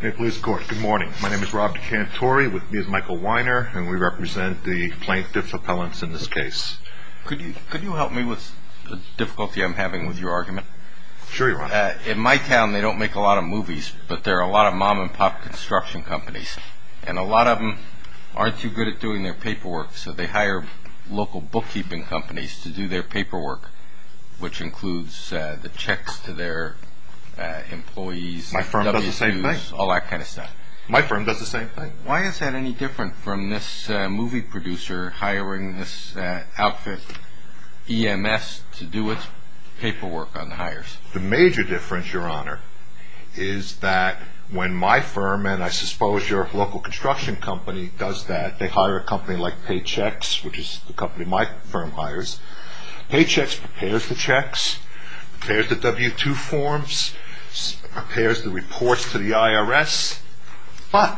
Good morning. My name is Rob DeCantori, with me is Michael Weiner, and we represent the plaintiff's appellants in this case. Could you help me with the difficulty I'm having with your argument? Sure, your honor. In my town, they don't make a lot of movies, but there are a lot of mom-and-pop construction companies, and a lot of them aren't too good at doing their paperwork, so they hire local bookkeeping companies to do their paperwork, which includes the checks to their employees. My firm does the same thing. All that kind of stuff. My firm does the same thing. Why is that any different from this movie producer hiring this outfit EMS to do its paperwork on the hires? The major difference, your honor, is that when my firm, and I suppose your local construction company does that, they hire a company like Paychex, which is the company my firm hires. Paychex prepares the checks, prepares the W-2 forms, prepares the reports to the IRS, but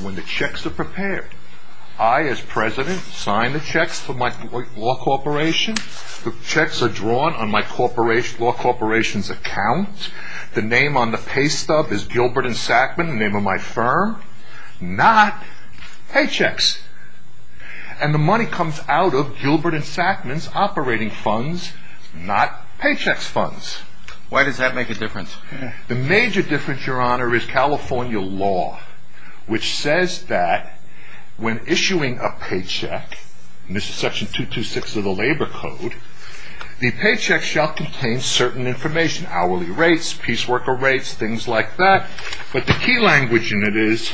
when the checks are prepared, I, as president, sign the checks to my law corporation. The checks are drawn on my law corporation's account. The name on the pay stub is Gilbert and Sackman, the name of my firm. Not Paychex. And the money comes out of Gilbert and Sackman's operating funds, not Paychex funds. Why does that make a difference? The major difference, your honor, is California law, which says that when issuing a paycheck, and this is section 226 of the labor code, the paycheck shall contain certain information, hourly rates, piece worker rates, things like that, but the key language in it is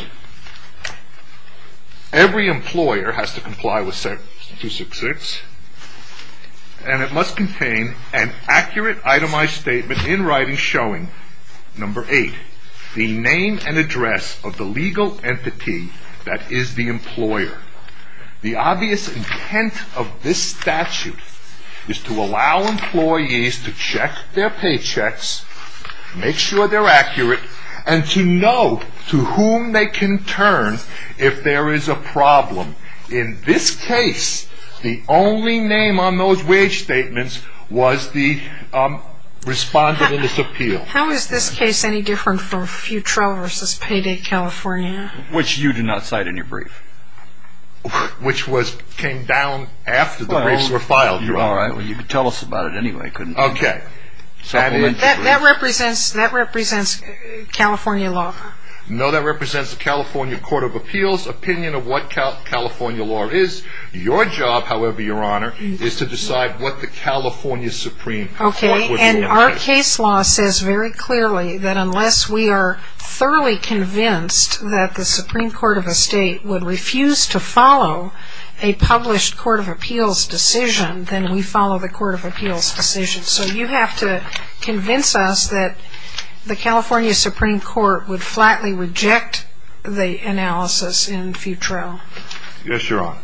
every employer has to comply with section 266, and it must contain an accurate itemized statement in writing showing, number eight, the name and address of the legal entity that is the employer. The obvious intent of this statute is to allow employees to check their paychecks, make sure they're accurate, and to know to whom they can turn if there is a problem. In this case, the only name on those wage statements was the respondent in this appeal. How is this case any different from Futrell v. Payday California? Which you do not cite in your brief. Which came down after the briefs were filed, your honor. Well, you could tell us about it anyway, couldn't you? Okay. That represents California law. No, that represents the California Court of Appeals. Opinion of what California law is, your job, however, your honor, is to decide what the California Supreme Court would do. Okay, and our case law says very clearly that unless we are thoroughly convinced that the Supreme Court of a state would refuse to follow a published court of appeals decision, then we follow the court of appeals decision. So you have to convince us that the California Supreme Court would flatly reject the analysis in Futrell. Yes, your honor.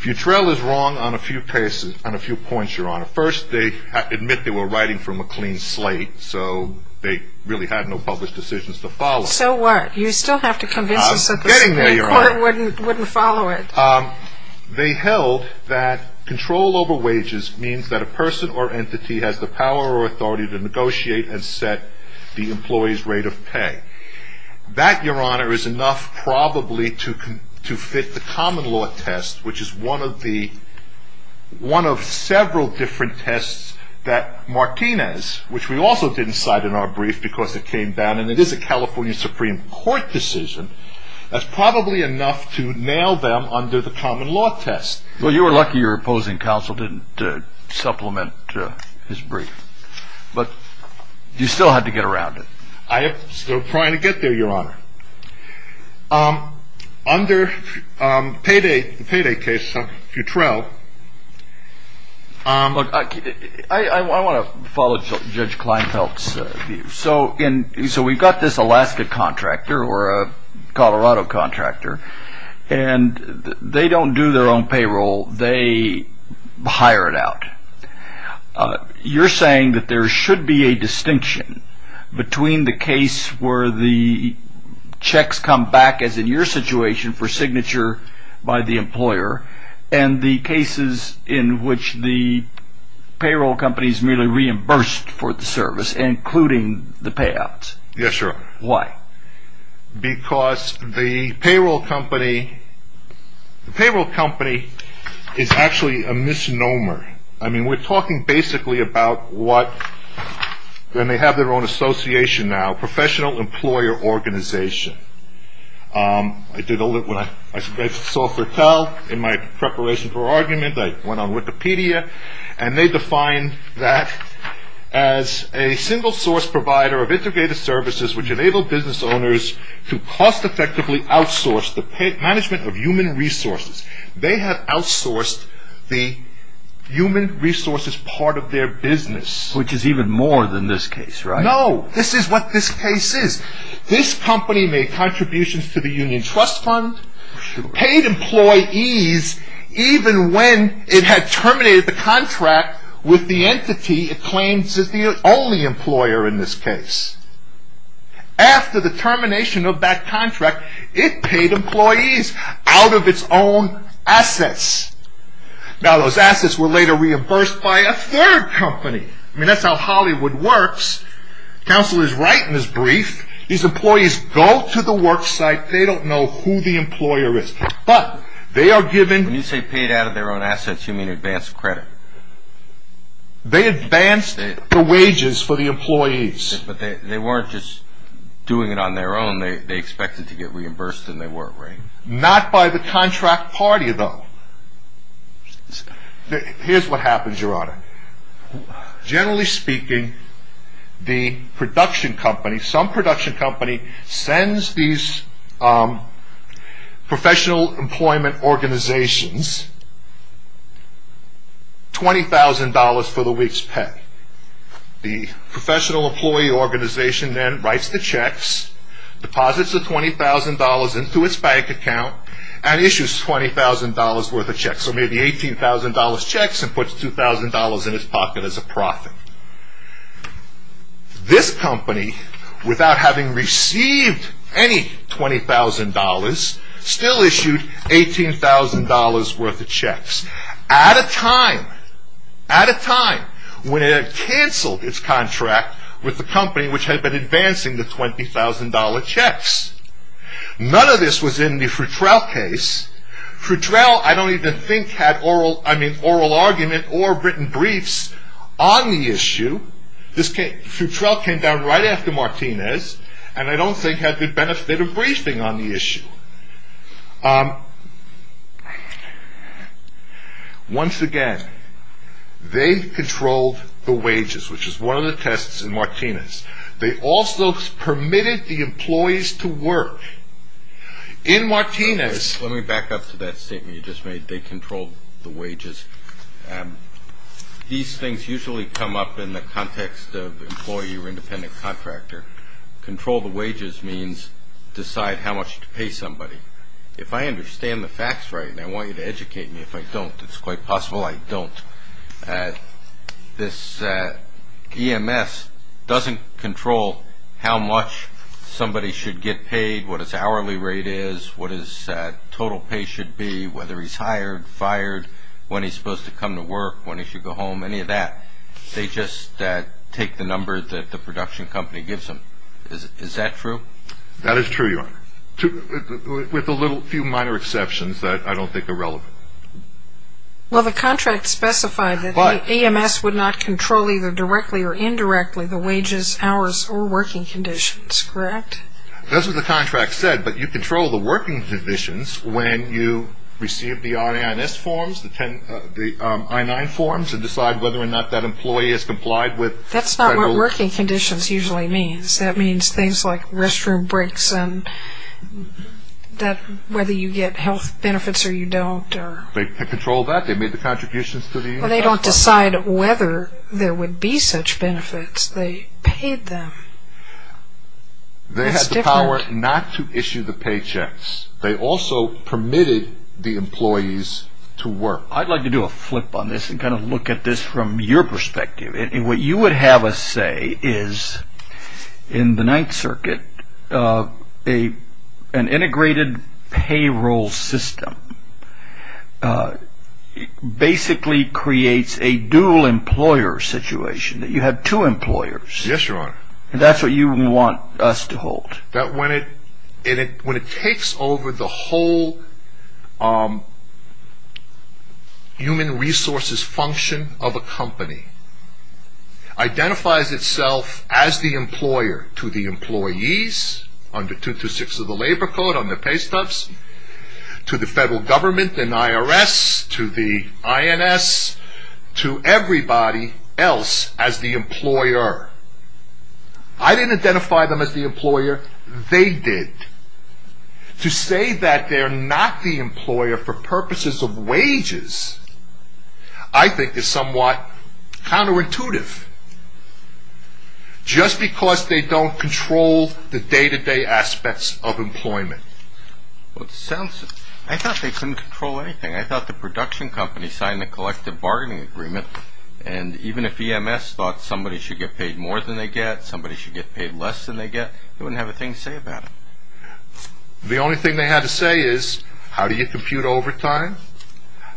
Futrell is wrong on a few points, your honor. First, they admit they were writing from a clean slate, so they really had no published decisions to follow. So what? You still have to convince us that the Supreme Court wouldn't follow it. They held that control over wages means that a person or entity has the power or authority to negotiate and set the employee's rate of pay. That, your honor, is enough probably to fit the common law test, which is one of several different tests that Martinez, which we also didn't cite in our brief because it came down, and it is a California Supreme Court decision, that's probably enough to nail them under the common law test. Well, you were lucky your opposing counsel didn't supplement his brief. But you still had to get around it. I am still trying to get there, your honor. Under the payday case, Futrell, I want to follow Judge Kleinfeld's view. So we've got this Alaska contractor or a Colorado contractor, and they don't do their own payroll. They hire it out. You're saying that there should be a distinction between the case where the checks come back, as in your situation, for signature by the employer, and the cases in which the payroll company is merely reimbursed for the service, including the payouts? Yes, your honor. Why? Because the payroll company is actually a misnomer. I mean, we're talking basically about what, and they have their own association now, professional employer organization. I did a little bit of software tell in my preparation for argument. I went on Wikipedia, and they define that as a single source provider of integrated services, which enable business owners to cost-effectively outsource the management of human resources. They have outsourced the human resources part of their business. Which is even more than this case, right? No, this is what this case is. This company made contributions to the union trust fund, paid employees even when it had terminated the contract with the entity it claims is the only employer in this case. After the termination of that contract, it paid employees out of its own assets. Now, those assets were later reimbursed by a third company. I mean, that's how Hollywood works. Counselor is right in his brief. These employees go to the work site. They don't know who the employer is. But they are given... When you say paid out of their own assets, you mean advanced credit. They advanced the wages for the employees. But they weren't just doing it on their own. They expected to get reimbursed, and they weren't, right? Here's what happens, Your Honor. Generally speaking, the production company, some production company, sends these professional employment organizations $20,000 for the week's pay. The professional employee organization then writes the checks, deposits the $20,000 into its bank account, and issues $20,000 worth of checks. So maybe $18,000 checks, and puts $2,000 in its pocket as a profit. This company, without having received any $20,000, still issued $18,000 worth of checks. At a time, at a time, when it had canceled its contract with the company which had been advancing the $20,000 checks. None of this was in the Frutrell case. Frutrell, I don't even think, had oral argument or written briefs on the issue. Frutrell came down right after Martinez, and I don't think had the benefit of briefing on the issue. Once again, they controlled the wages, which is one of the tests in Martinez. They also permitted the employees to work. In Martinez. Let me back up to that statement you just made. They controlled the wages. These things usually come up in the context of employee or independent contractor. Control the wages means decide how much to pay somebody. If I understand the facts right, and I want you to educate me, if I don't, it's quite possible I don't. This EMS doesn't control how much somebody should get paid, what his hourly rate is, what his total pay should be, whether he's hired, fired, when he's supposed to come to work, when he should go home, any of that. They just take the numbers that the production company gives them. Is that true? That is true, Your Honor, with a few minor exceptions that I don't think are relevant. Well, the contract specified that EMS would not control either directly or indirectly the wages, hours, or working conditions, correct? That's what the contract said, but you control the working conditions when you receive the RANS forms, the I-9 forms, and decide whether or not that employee has complied with federal. That's not what working conditions usually means. That means things like restroom breaks and whether you get health benefits or you don't. They control that. They made the contributions to the EMS. Well, they don't decide whether there would be such benefits. They paid them. That's different. They had the power not to issue the paychecks. They also permitted the employees to work. I'd like to do a flip on this and kind of look at this from your perspective. What you would have us say is, in the Ninth Circuit, an integrated payroll system basically creates a dual employer situation, that you have two employers. Yes, Your Honor. That's what you want us to hold. When it takes over the whole human resources function of a company, identifies itself as the employer to the employees, under 226 of the Labor Code, under pay stubs, to the federal government, the IRS, to the INS, to everybody else as the employer. I didn't identify them as the employer. They did. To say that they're not the employer for purposes of wages, I think, is somewhat counterintuitive, just because they don't control the day-to-day aspects of employment. I thought they couldn't control anything. I thought the production company signed the collective bargaining agreement, and even if EMS thought somebody should get paid more than they get, somebody should get paid less than they get, they wouldn't have a thing to say about it. The only thing they had to say is, how do you compute overtime?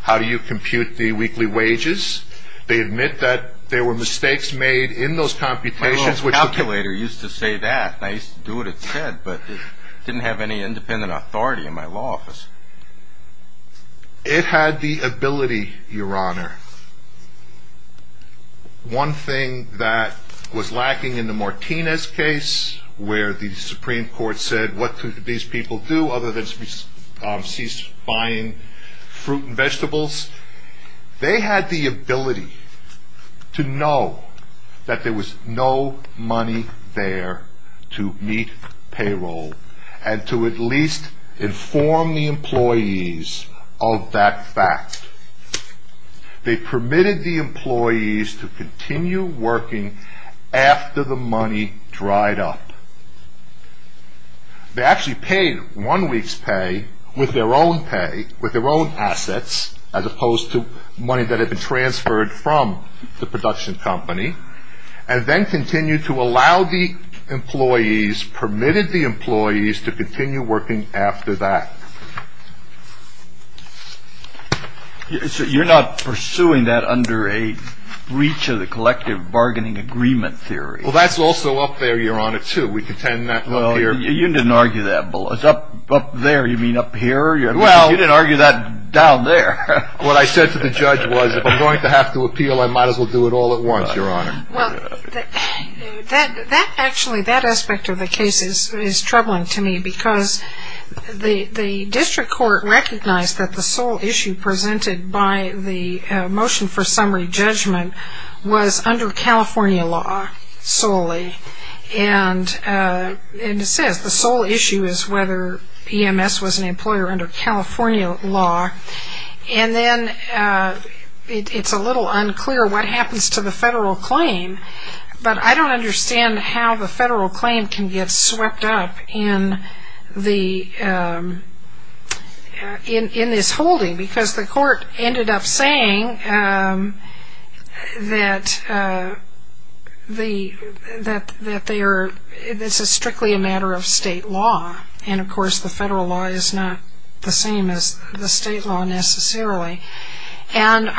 How do you compute the weekly wages? They admit that there were mistakes made in those computations. My little calculator used to say that, and I used to do what it said, but it didn't have any independent authority in my law office. It had the ability, Your Honor, one thing that was lacking in the Martinez case, where the Supreme Court said, what could these people do other than cease buying fruit and vegetables? They had the ability to know that there was no money there to meet payroll, and to at least inform the employees of that fact. They permitted the employees to continue working after the money dried up. They actually paid one week's pay with their own pay, with their own assets, as opposed to money that had been transferred from the production company, and then continued to allow the employees, permitted the employees to continue working after that. So you're not pursuing that under a breach of the collective bargaining agreement theory? Well, that's also up there, Your Honor, too. We contend that up here. Well, you didn't argue that below. Up there, you mean up here? Well, you didn't argue that down there. What I said to the judge was, if I'm going to have to appeal, I might as well do it all at once, Your Honor. Well, actually, that aspect of the case is troubling to me, because the district court recognized that the sole issue presented by the motion for summary judgment was under California law solely. And it says the sole issue is whether EMS was an employer under California law. And then it's a little unclear what happens to the federal claim, but I don't understand how the federal claim can get swept up in this holding, because the court ended up saying that it's strictly a matter of state law, and, of course, the federal law is not the same as the state law necessarily. And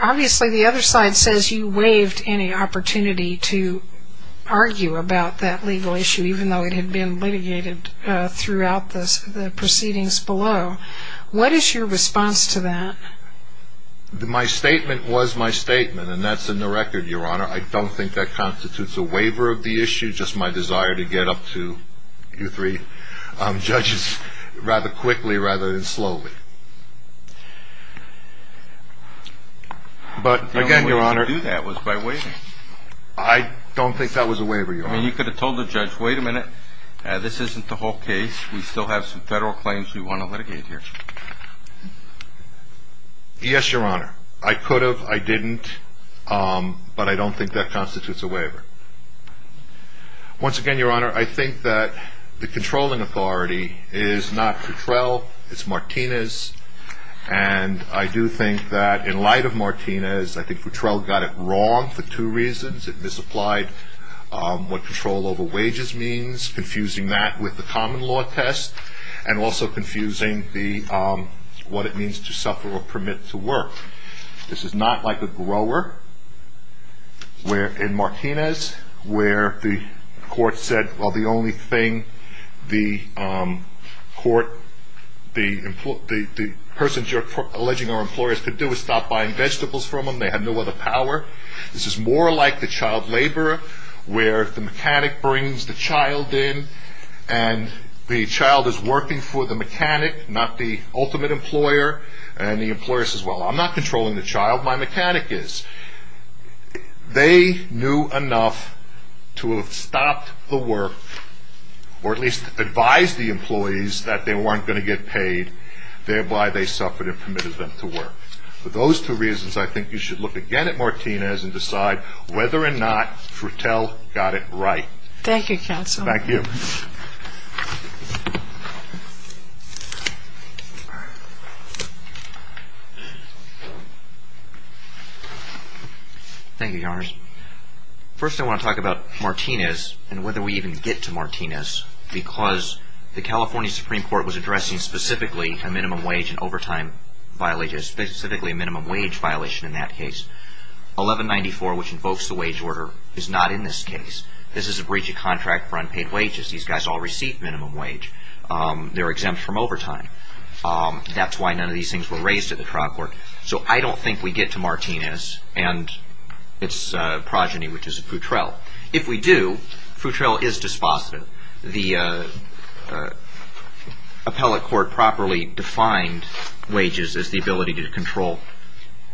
obviously the other side says you waived any opportunity to argue about that legal issue, even though it had been litigated throughout the proceedings below. What is your response to that? My statement was my statement, and that's in the record, Your Honor. I don't think that constitutes a waiver of the issue, just my desire to get up to you three judges rather quickly rather than slowly. But, again, Your Honor. The only way to do that was by waiving. I don't think that was a waiver, Your Honor. I mean, you could have told the judge, wait a minute, this isn't the whole case. We still have some federal claims we want to litigate here. Yes, Your Honor. I could have. I didn't. But I don't think that constitutes a waiver. Once again, Your Honor, I think that the controlling authority is not Futrell. It's Martinez. And I do think that in light of Martinez, I think Futrell got it wrong for two reasons. It misapplied what control over wages means, confusing that with the common law test, and also confusing what it means to suffer or permit to work. This is not like a grower in Martinez where the court said, well, the only thing the court, the person you're alleging are employers could do is stop buying vegetables from them. They have no other power. This is more like the child laborer where the mechanic brings the child in and the child is working for the mechanic, not the ultimate employer, and the employer says, well, I'm not controlling the child, my mechanic is. They knew enough to have stopped the work or at least advised the employees that they weren't going to get paid, thereby they suffered and permitted them to work. For those two reasons, I think you should look again at Martinez and decide whether or not Futrell got it right. Thank you, counsel. Thank you. Thank you, Your Honor. First, I want to talk about Martinez and whether we even get to Martinez because the California Supreme Court was addressing specifically a minimum wage and overtime violation, specifically a minimum wage violation in that case. 1194, which invokes the wage order, is not in this case. This is a breach of contract for unpaid wages. These guys all receive minimum wage. They're exempt from overtime. That's why none of these things were raised at the trial court. So I don't think we get to Martinez and its progeny, which is Futrell. If we do, Futrell is dispositive. The appellate court properly defined wages as the ability to control,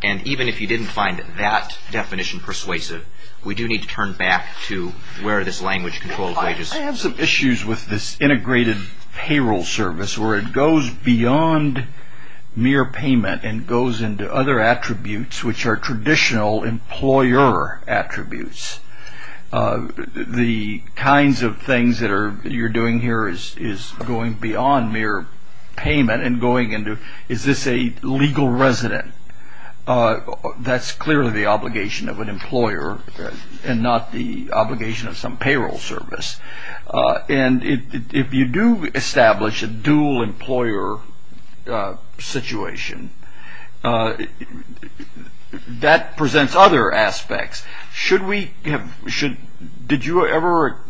and even if you didn't find that definition persuasive, we do need to turn back to where this language controls wages. I have some issues with this integrated payroll service where it goes beyond mere payment and goes into other attributes, which are traditional employer attributes. The kinds of things that you're doing here is going beyond mere payment and going into, is this a legal resident? That's clearly the obligation of an employer and not the obligation of some payroll service. And if you do establish a dual employer situation, that presents other aspects. Did you ever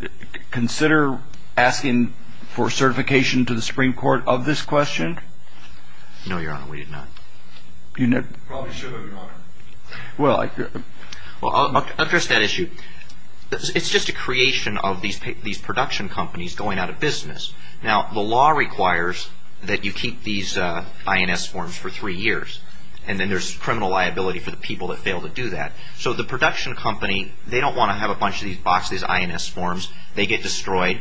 consider asking for certification to the Supreme Court of this question? No, Your Honor, we did not. Well, I'll address that issue. It's just a creation of these production companies going out of business. Now, the law requires that you keep these INS forms for three years, and then there's criminal liability for the people that fail to do that. So the production company, they don't want to have a bunch of these boxes of INS forms. They get destroyed.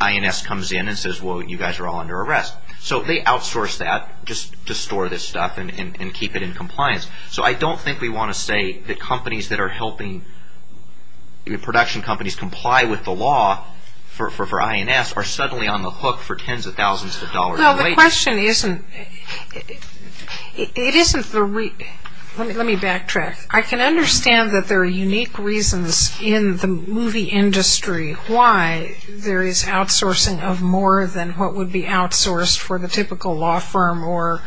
INS comes in and says, well, you guys are all under arrest. So they outsource that just to store this stuff and keep it in compliance. So I don't think we want to say that companies that are helping production companies comply with the law for INS are suddenly on the hook for tens of thousands of dollars in wages. Well, the question isn't, it isn't the, let me backtrack. I can understand that there are unique reasons in the movie industry why there is outsourcing of more than what would be outsourced for the typical law firm or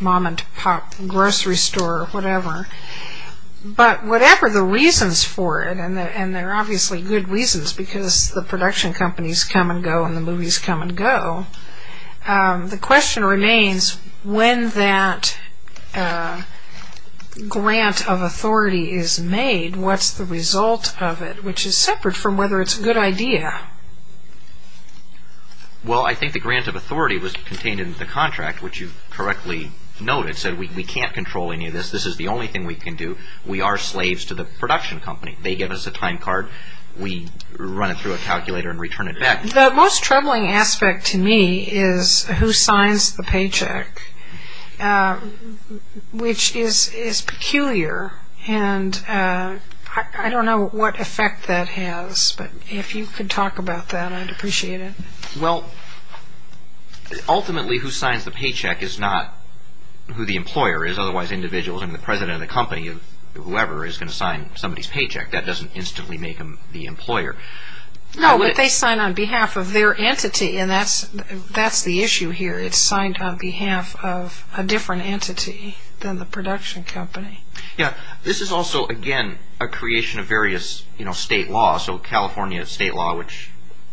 mom-and-pop grocery store or whatever. But whatever the reasons for it, and they're obviously good reasons because the production companies come and go and the movies come and go, the question remains when that grant of authority is made, what's the result of it, which is separate from whether it's a good idea. Well, I think the grant of authority was contained in the contract, which you correctly noted. It said we can't control any of this. This is the only thing we can do. We are slaves to the production company. They give us a time card. We run it through a calculator and return it back. The most troubling aspect to me is who signs the paycheck, which is peculiar. And I don't know what effect that has. But if you could talk about that, I'd appreciate it. Well, ultimately, who signs the paycheck is not who the employer is. Otherwise, individuals and the president of the company, whoever is going to sign somebody's paycheck, that doesn't instantly make them the employer. No, but they sign on behalf of their entity, and that's the issue here. It's signed on behalf of a different entity than the production company. Yeah. This is also, again, a creation of various state laws. So California state law, which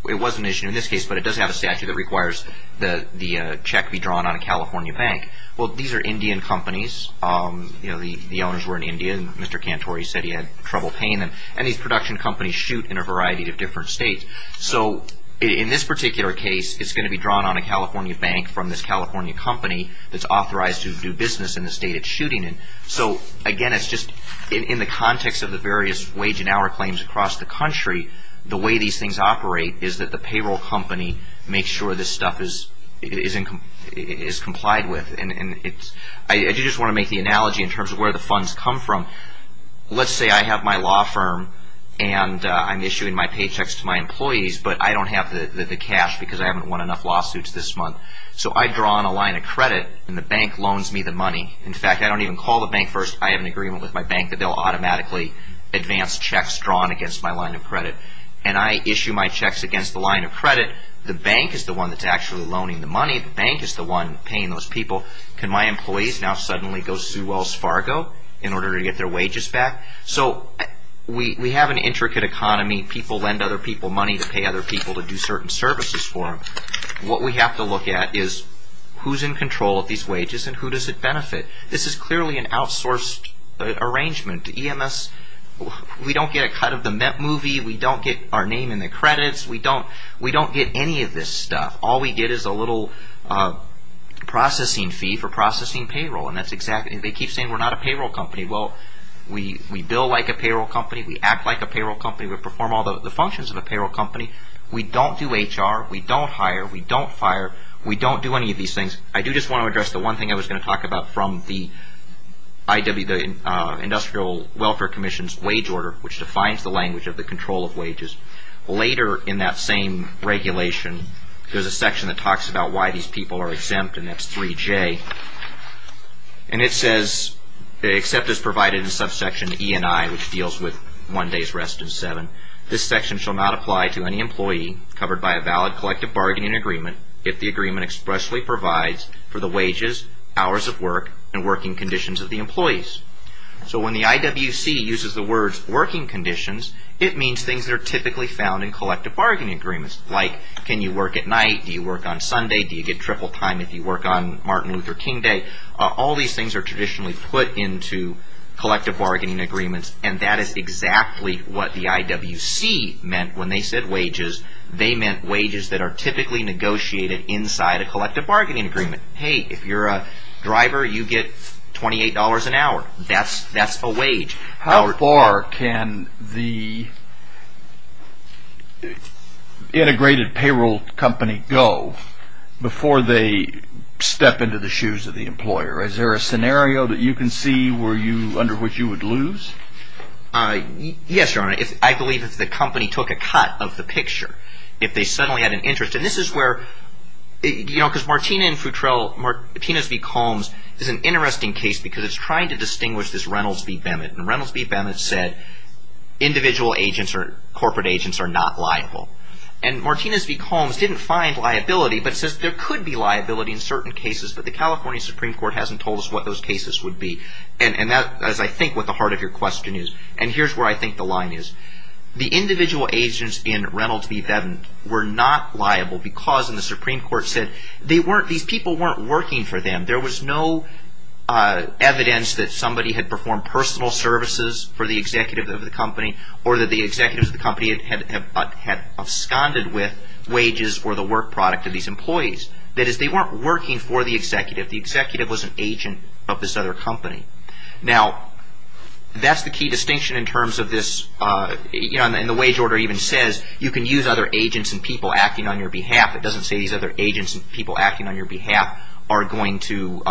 it was an issue in this case, but it does have a statute that requires that the check be drawn on a California bank. Well, these are Indian companies. The owners were in India, and Mr. Cantore said he had trouble paying them. And these production companies shoot in a variety of different states. So in this particular case, it's going to be drawn on a California bank from this California company that's authorized to do business in the state it's shooting in. So, again, it's just in the context of the various wage and hour claims across the country, the way these things operate is that the payroll company makes sure this stuff is complied with. I do just want to make the analogy in terms of where the funds come from. Let's say I have my law firm, and I'm issuing my paychecks to my employees, but I don't have the cash because I haven't won enough lawsuits this month. So I draw on a line of credit, and the bank loans me the money. In fact, I don't even call the bank first. I have an agreement with my bank that they'll automatically advance checks drawn against my line of credit. And I issue my checks against the line of credit. The bank is the one that's actually loaning the money. The bank is the one paying those people. Can my employees now suddenly go Sue Wells Fargo in order to get their wages back? So we have an intricate economy. People lend other people money to pay other people to do certain services for them. What we have to look at is who's in control of these wages, and who does it benefit? This is clearly an outsourced arrangement. We don't get a cut of the movie. We don't get our name in the credits. We don't get any of this stuff. All we get is a little processing fee for processing payroll. They keep saying we're not a payroll company. Well, we bill like a payroll company. We act like a payroll company. We perform all the functions of a payroll company. We don't do HR. We don't hire. We don't fire. We don't do any of these things. I do just want to address the one thing I was going to talk about from the Industrial Welfare Commission's wage order, which defines the language of the control of wages. Later in that same regulation, there's a section that talks about why these people are exempt, and that's 3J. And it says, except as provided in subsection E&I, which deals with one day's rest and seven, this section shall not apply to any employee covered by a valid collective bargaining agreement if the agreement expressly provides for the wages, hours of work, and working conditions of the employees. So when the IWC uses the words working conditions, it means things that are typically found in collective bargaining agreements, like can you work at night? Do you work on Sunday? Do you get triple time if you work on Martin Luther King Day? All these things are traditionally put into collective bargaining agreements, and that is exactly what the IWC meant when they said wages. They meant wages that are typically negotiated inside a collective bargaining agreement. Hey, if you're a driver, you get $28 an hour. That's a wage. How far can the integrated payroll company go before they step into the shoes of the employer? Is there a scenario that you can see where you – under which you would lose? Yes, Your Honor. I believe if the company took a cut of the picture, if they suddenly had an interest – and this is where – because Martina and Futrell – Martina's v. Combs is an interesting case because it's trying to distinguish this Reynolds v. Bennett. And Reynolds v. Bennett said individual agents or corporate agents are not liable. And Martina's v. Combs didn't find liability, but says there could be liability in certain cases, but the California Supreme Court hasn't told us what those cases would be. And that is, I think, what the heart of your question is. And here's where I think the line is. The individual agents in Reynolds v. Bennett were not liable because – and the Supreme Court said they weren't – these people weren't working for them. There was no evidence that somebody had performed personal services for the executive of the company or that the executives of the company had absconded with wages or the work product of these employees. That is, they weren't working for the executive. The executive was an agent of this other company. Now, that's the key distinction in terms of this – and the wage order even says you can use other agents and people acting on your behalf. It doesn't say these other agents and people acting on your behalf are going to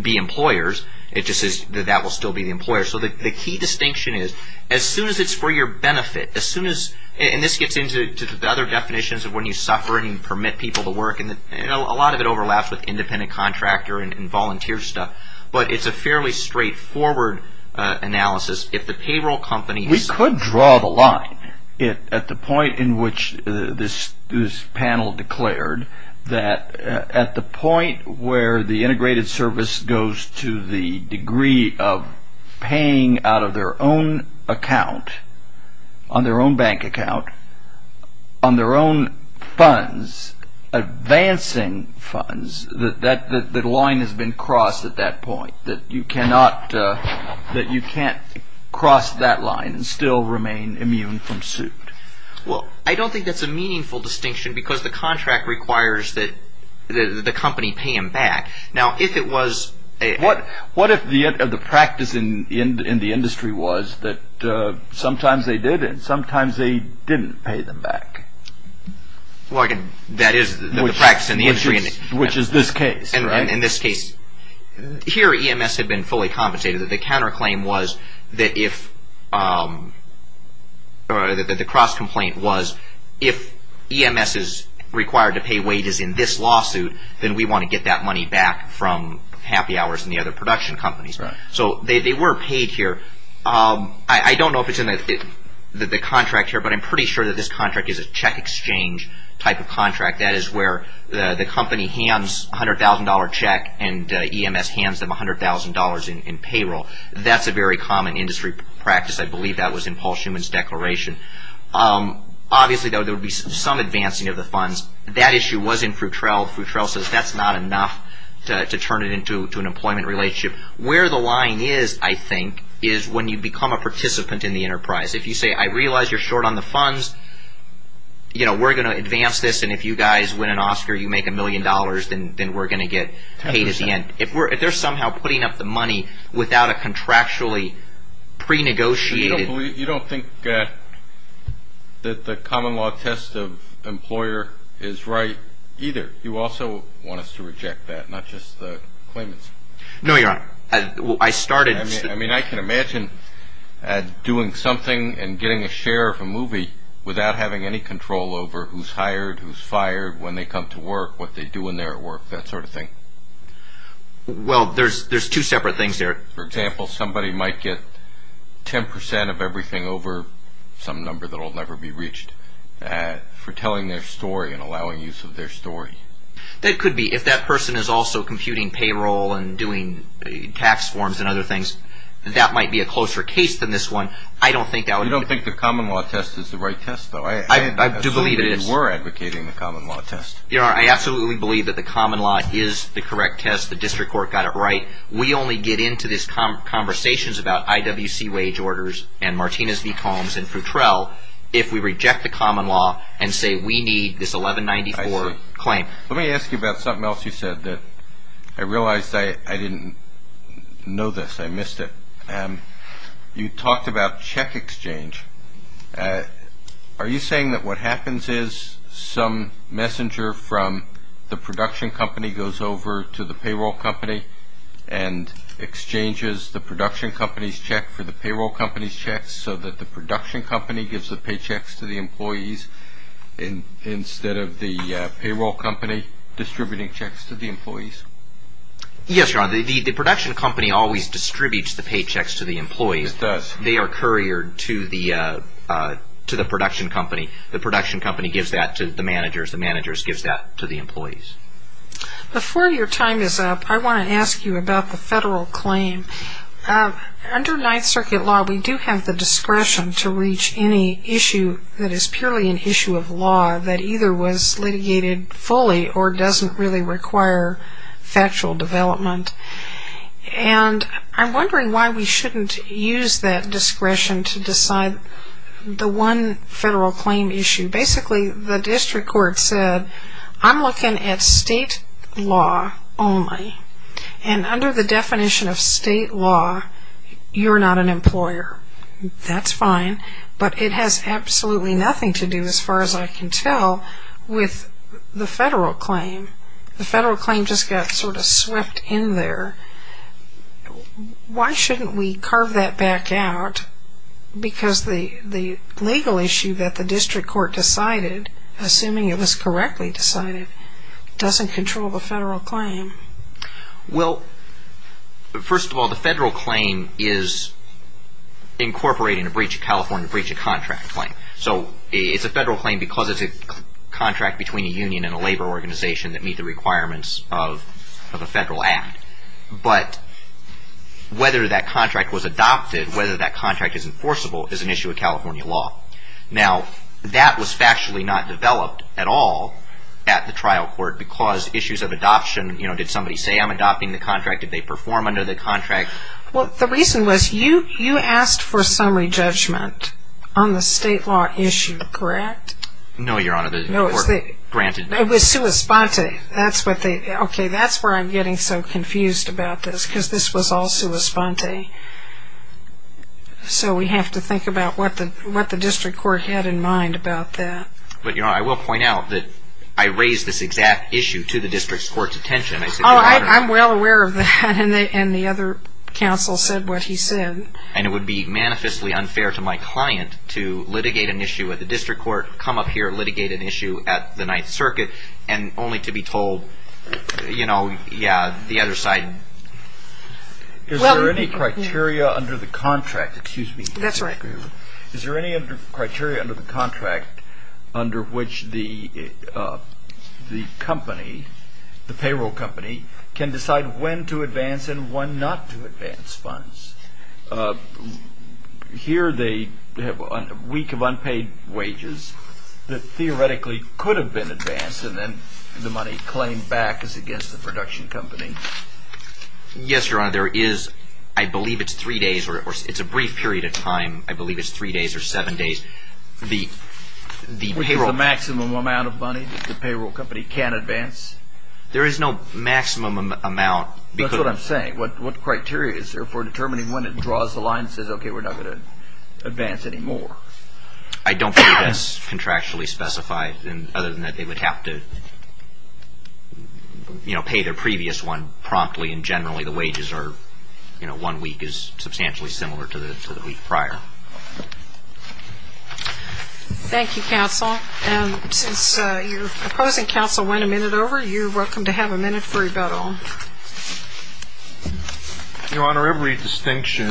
be employers. It just says that that will still be the employer. So the key distinction is as soon as it's for your benefit, as soon as – and this gets into the other definitions of when you suffer and permit people to work, and a lot of it overlaps with independent contractor and volunteer stuff, but it's a fairly straightforward analysis. If the payroll company – at the point in which this panel declared that at the point where the integrated service goes to the degree of paying out of their own account, on their own bank account, on their own funds, advancing funds, that line has been crossed at that point, that you cannot cross that line and still remain immune from suit. Well, I don't think that's a meaningful distinction because the contract requires that the company pay them back. Now, if it was – What if the practice in the industry was that sometimes they did and sometimes they didn't pay them back? Well, that is the practice in the industry. Which is this case, right? In this case. Here, EMS had been fully compensated. The counterclaim was that if – or the cross-complaint was if EMS is required to pay wages in this lawsuit, then we want to get that money back from Happy Hours and the other production companies. Right. So, they were paid here. I don't know if it's in the contract here, but I'm pretty sure that this contract is a check exchange type of contract. That is where the company hands a $100,000 check and EMS hands them $100,000 in payroll. That's a very common industry practice. I believe that was in Paul Shuman's declaration. Obviously, though, there would be some advancing of the funds. That issue was in Fruit Trail. Fruit Trail says that's not enough to turn it into an employment relationship. Where the line is, I think, is when you become a participant in the enterprise. If you say, I realize you're short on the funds, we're going to advance this, and if you guys win an Oscar, you make a million dollars, then we're going to get paid at the end. If they're somehow putting up the money without a contractually pre-negotiated – You don't think that the common law test of employer is right either. You also want us to reject that, not just the claimants. No, Your Honor. I started – Without having any control over who's hired, who's fired, when they come to work, what they do in their work, that sort of thing. Well, there's two separate things there. For example, somebody might get 10% of everything over some number that will never be reached for telling their story and allowing use of their story. That could be. If that person is also computing payroll and doing tax forms and other things, that might be a closer case than this one. I don't think that would – I do believe it is. I assume you were advocating the common law test. Your Honor, I absolutely believe that the common law is the correct test. The district court got it right. We only get into these conversations about IWC wage orders and Martinez v. Combs and Futrell if we reject the common law and say we need this 1194 claim. Let me ask you about something else you said that I realized I didn't know this. I missed it. You talked about check exchange. Are you saying that what happens is some messenger from the production company goes over to the payroll company and exchanges the production company's check for the payroll company's check so that the production company gives the paychecks to the employees instead of the payroll company distributing checks to the employees? Yes, Your Honor. The production company always distributes the paychecks to the employees. It does. They are couriered to the production company. The production company gives that to the managers. The managers gives that to the employees. Before your time is up, I want to ask you about the federal claim. Under Ninth Circuit law, we do have the discretion to reach any issue that is purely an issue of law that either was litigated fully or doesn't really require factual development. And I'm wondering why we shouldn't use that discretion to decide the one federal claim issue. Basically, the district court said, I'm looking at state law only. And under the definition of state law, you're not an employer. That's fine. But it has absolutely nothing to do, as far as I can tell, with the federal claim. The federal claim just got sort of swept in there. Why shouldn't we carve that back out? Because the legal issue that the district court decided, assuming it was correctly decided, doesn't control the federal claim. Well, first of all, the federal claim is incorporating a breach of California breach of contract claim. So it's a federal claim because it's a contract between a union and a labor organization that meet the requirements of a federal act. But whether that contract was adopted, whether that contract is enforceable, is an issue of California law. Now, that was factually not developed at all at the trial court because issues of adoption, you know, did somebody say I'm adopting the contract? Did they perform under the contract? Well, the reason was you asked for summary judgment on the state law issue, correct? No, Your Honor, the court granted me. It was sua sponte. That's where I'm getting so confused about this because this was all sua sponte. So we have to think about what the district court had in mind about that. But, Your Honor, I will point out that I raised this exact issue to the district court's attention. Oh, I'm well aware of that, and the other counsel said what he said. And it would be manifestly unfair to my client to litigate an issue at the district court, come up here and litigate an issue at the Ninth Circuit, and only to be told, you know, yeah, the other side. Is there any criteria under the contract? Excuse me. That's right. Is there any criteria under the contract under which the company, the payroll company, can decide when to advance and when not to advance funds? Here they have a week of unpaid wages that theoretically could have been advanced, and then the money claimed back is against the production company. Yes, Your Honor, there is. I believe it's three days, or it's a brief period of time. I believe it's three days or seven days. With the maximum amount of money the payroll company can advance? There is no maximum amount. That's what I'm saying. What criteria is there for determining when it draws the line and says, okay, we're not going to advance anymore? I don't believe that's contractually specified, other than that they would have to, you know, pay their previous one promptly, and generally the wages are, you know, one week is substantially similar to the week prior. Thank you, counsel. And since your opposing counsel went a minute over, you're welcome to have a minute for rebuttal. Your Honor, every distinction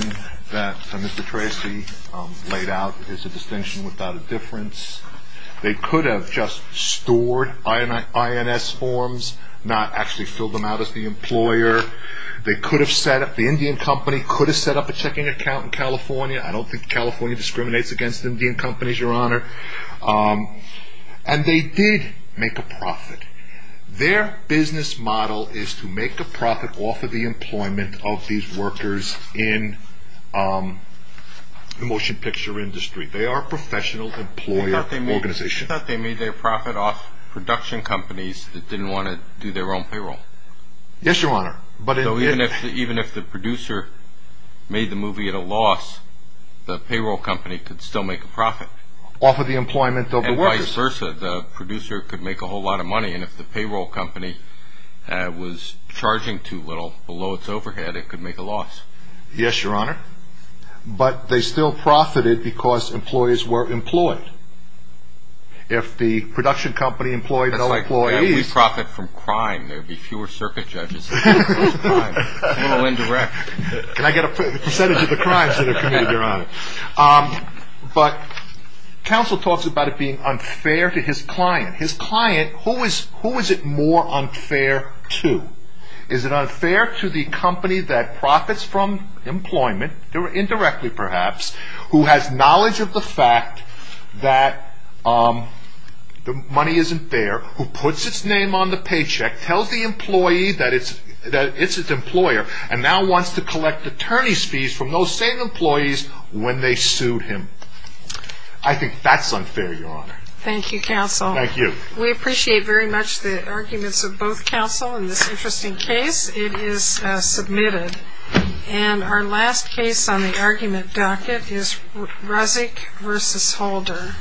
that Mr. Tracy laid out is a distinction without a difference. They could have just stored INS forms, not actually filled them out as the employer. They could have set up, the Indian company could have set up a checking account in California. I don't think California discriminates against Indian companies, Your Honor. And they did make a profit. Their business model is to make a profit off of the employment of these workers in the motion picture industry. They are a professional employer organization. You thought they made their profit off production companies that didn't want to do their own payroll? Yes, Your Honor. So even if the producer made the movie at a loss, the payroll company could still make a profit? Off of the employment of the workers. Or vice versa. The producer could make a whole lot of money. And if the payroll company was charging too little below its overhead, it could make a loss. Yes, Your Honor. But they still profited because employees were employed. If the production company employed no employees. If we profit from crime, there would be fewer circuit judges. It's a little indirect. Can I get a percentage of the crimes that are committed, Your Honor? But counsel talks about it being unfair to his client. His client, who is it more unfair to? Is it unfair to the company that profits from employment, indirectly perhaps, who has knowledge of the fact that the money isn't fair, who puts its name on the paycheck, tells the employee that it's its employer, and now wants to collect attorney's fees from those same employees when they sued him. I think that's unfair, Your Honor. Thank you, counsel. Thank you. We appreciate very much the arguments of both counsel in this interesting case. It is submitted. And our last case on the argument docket is Rezik v. Holder.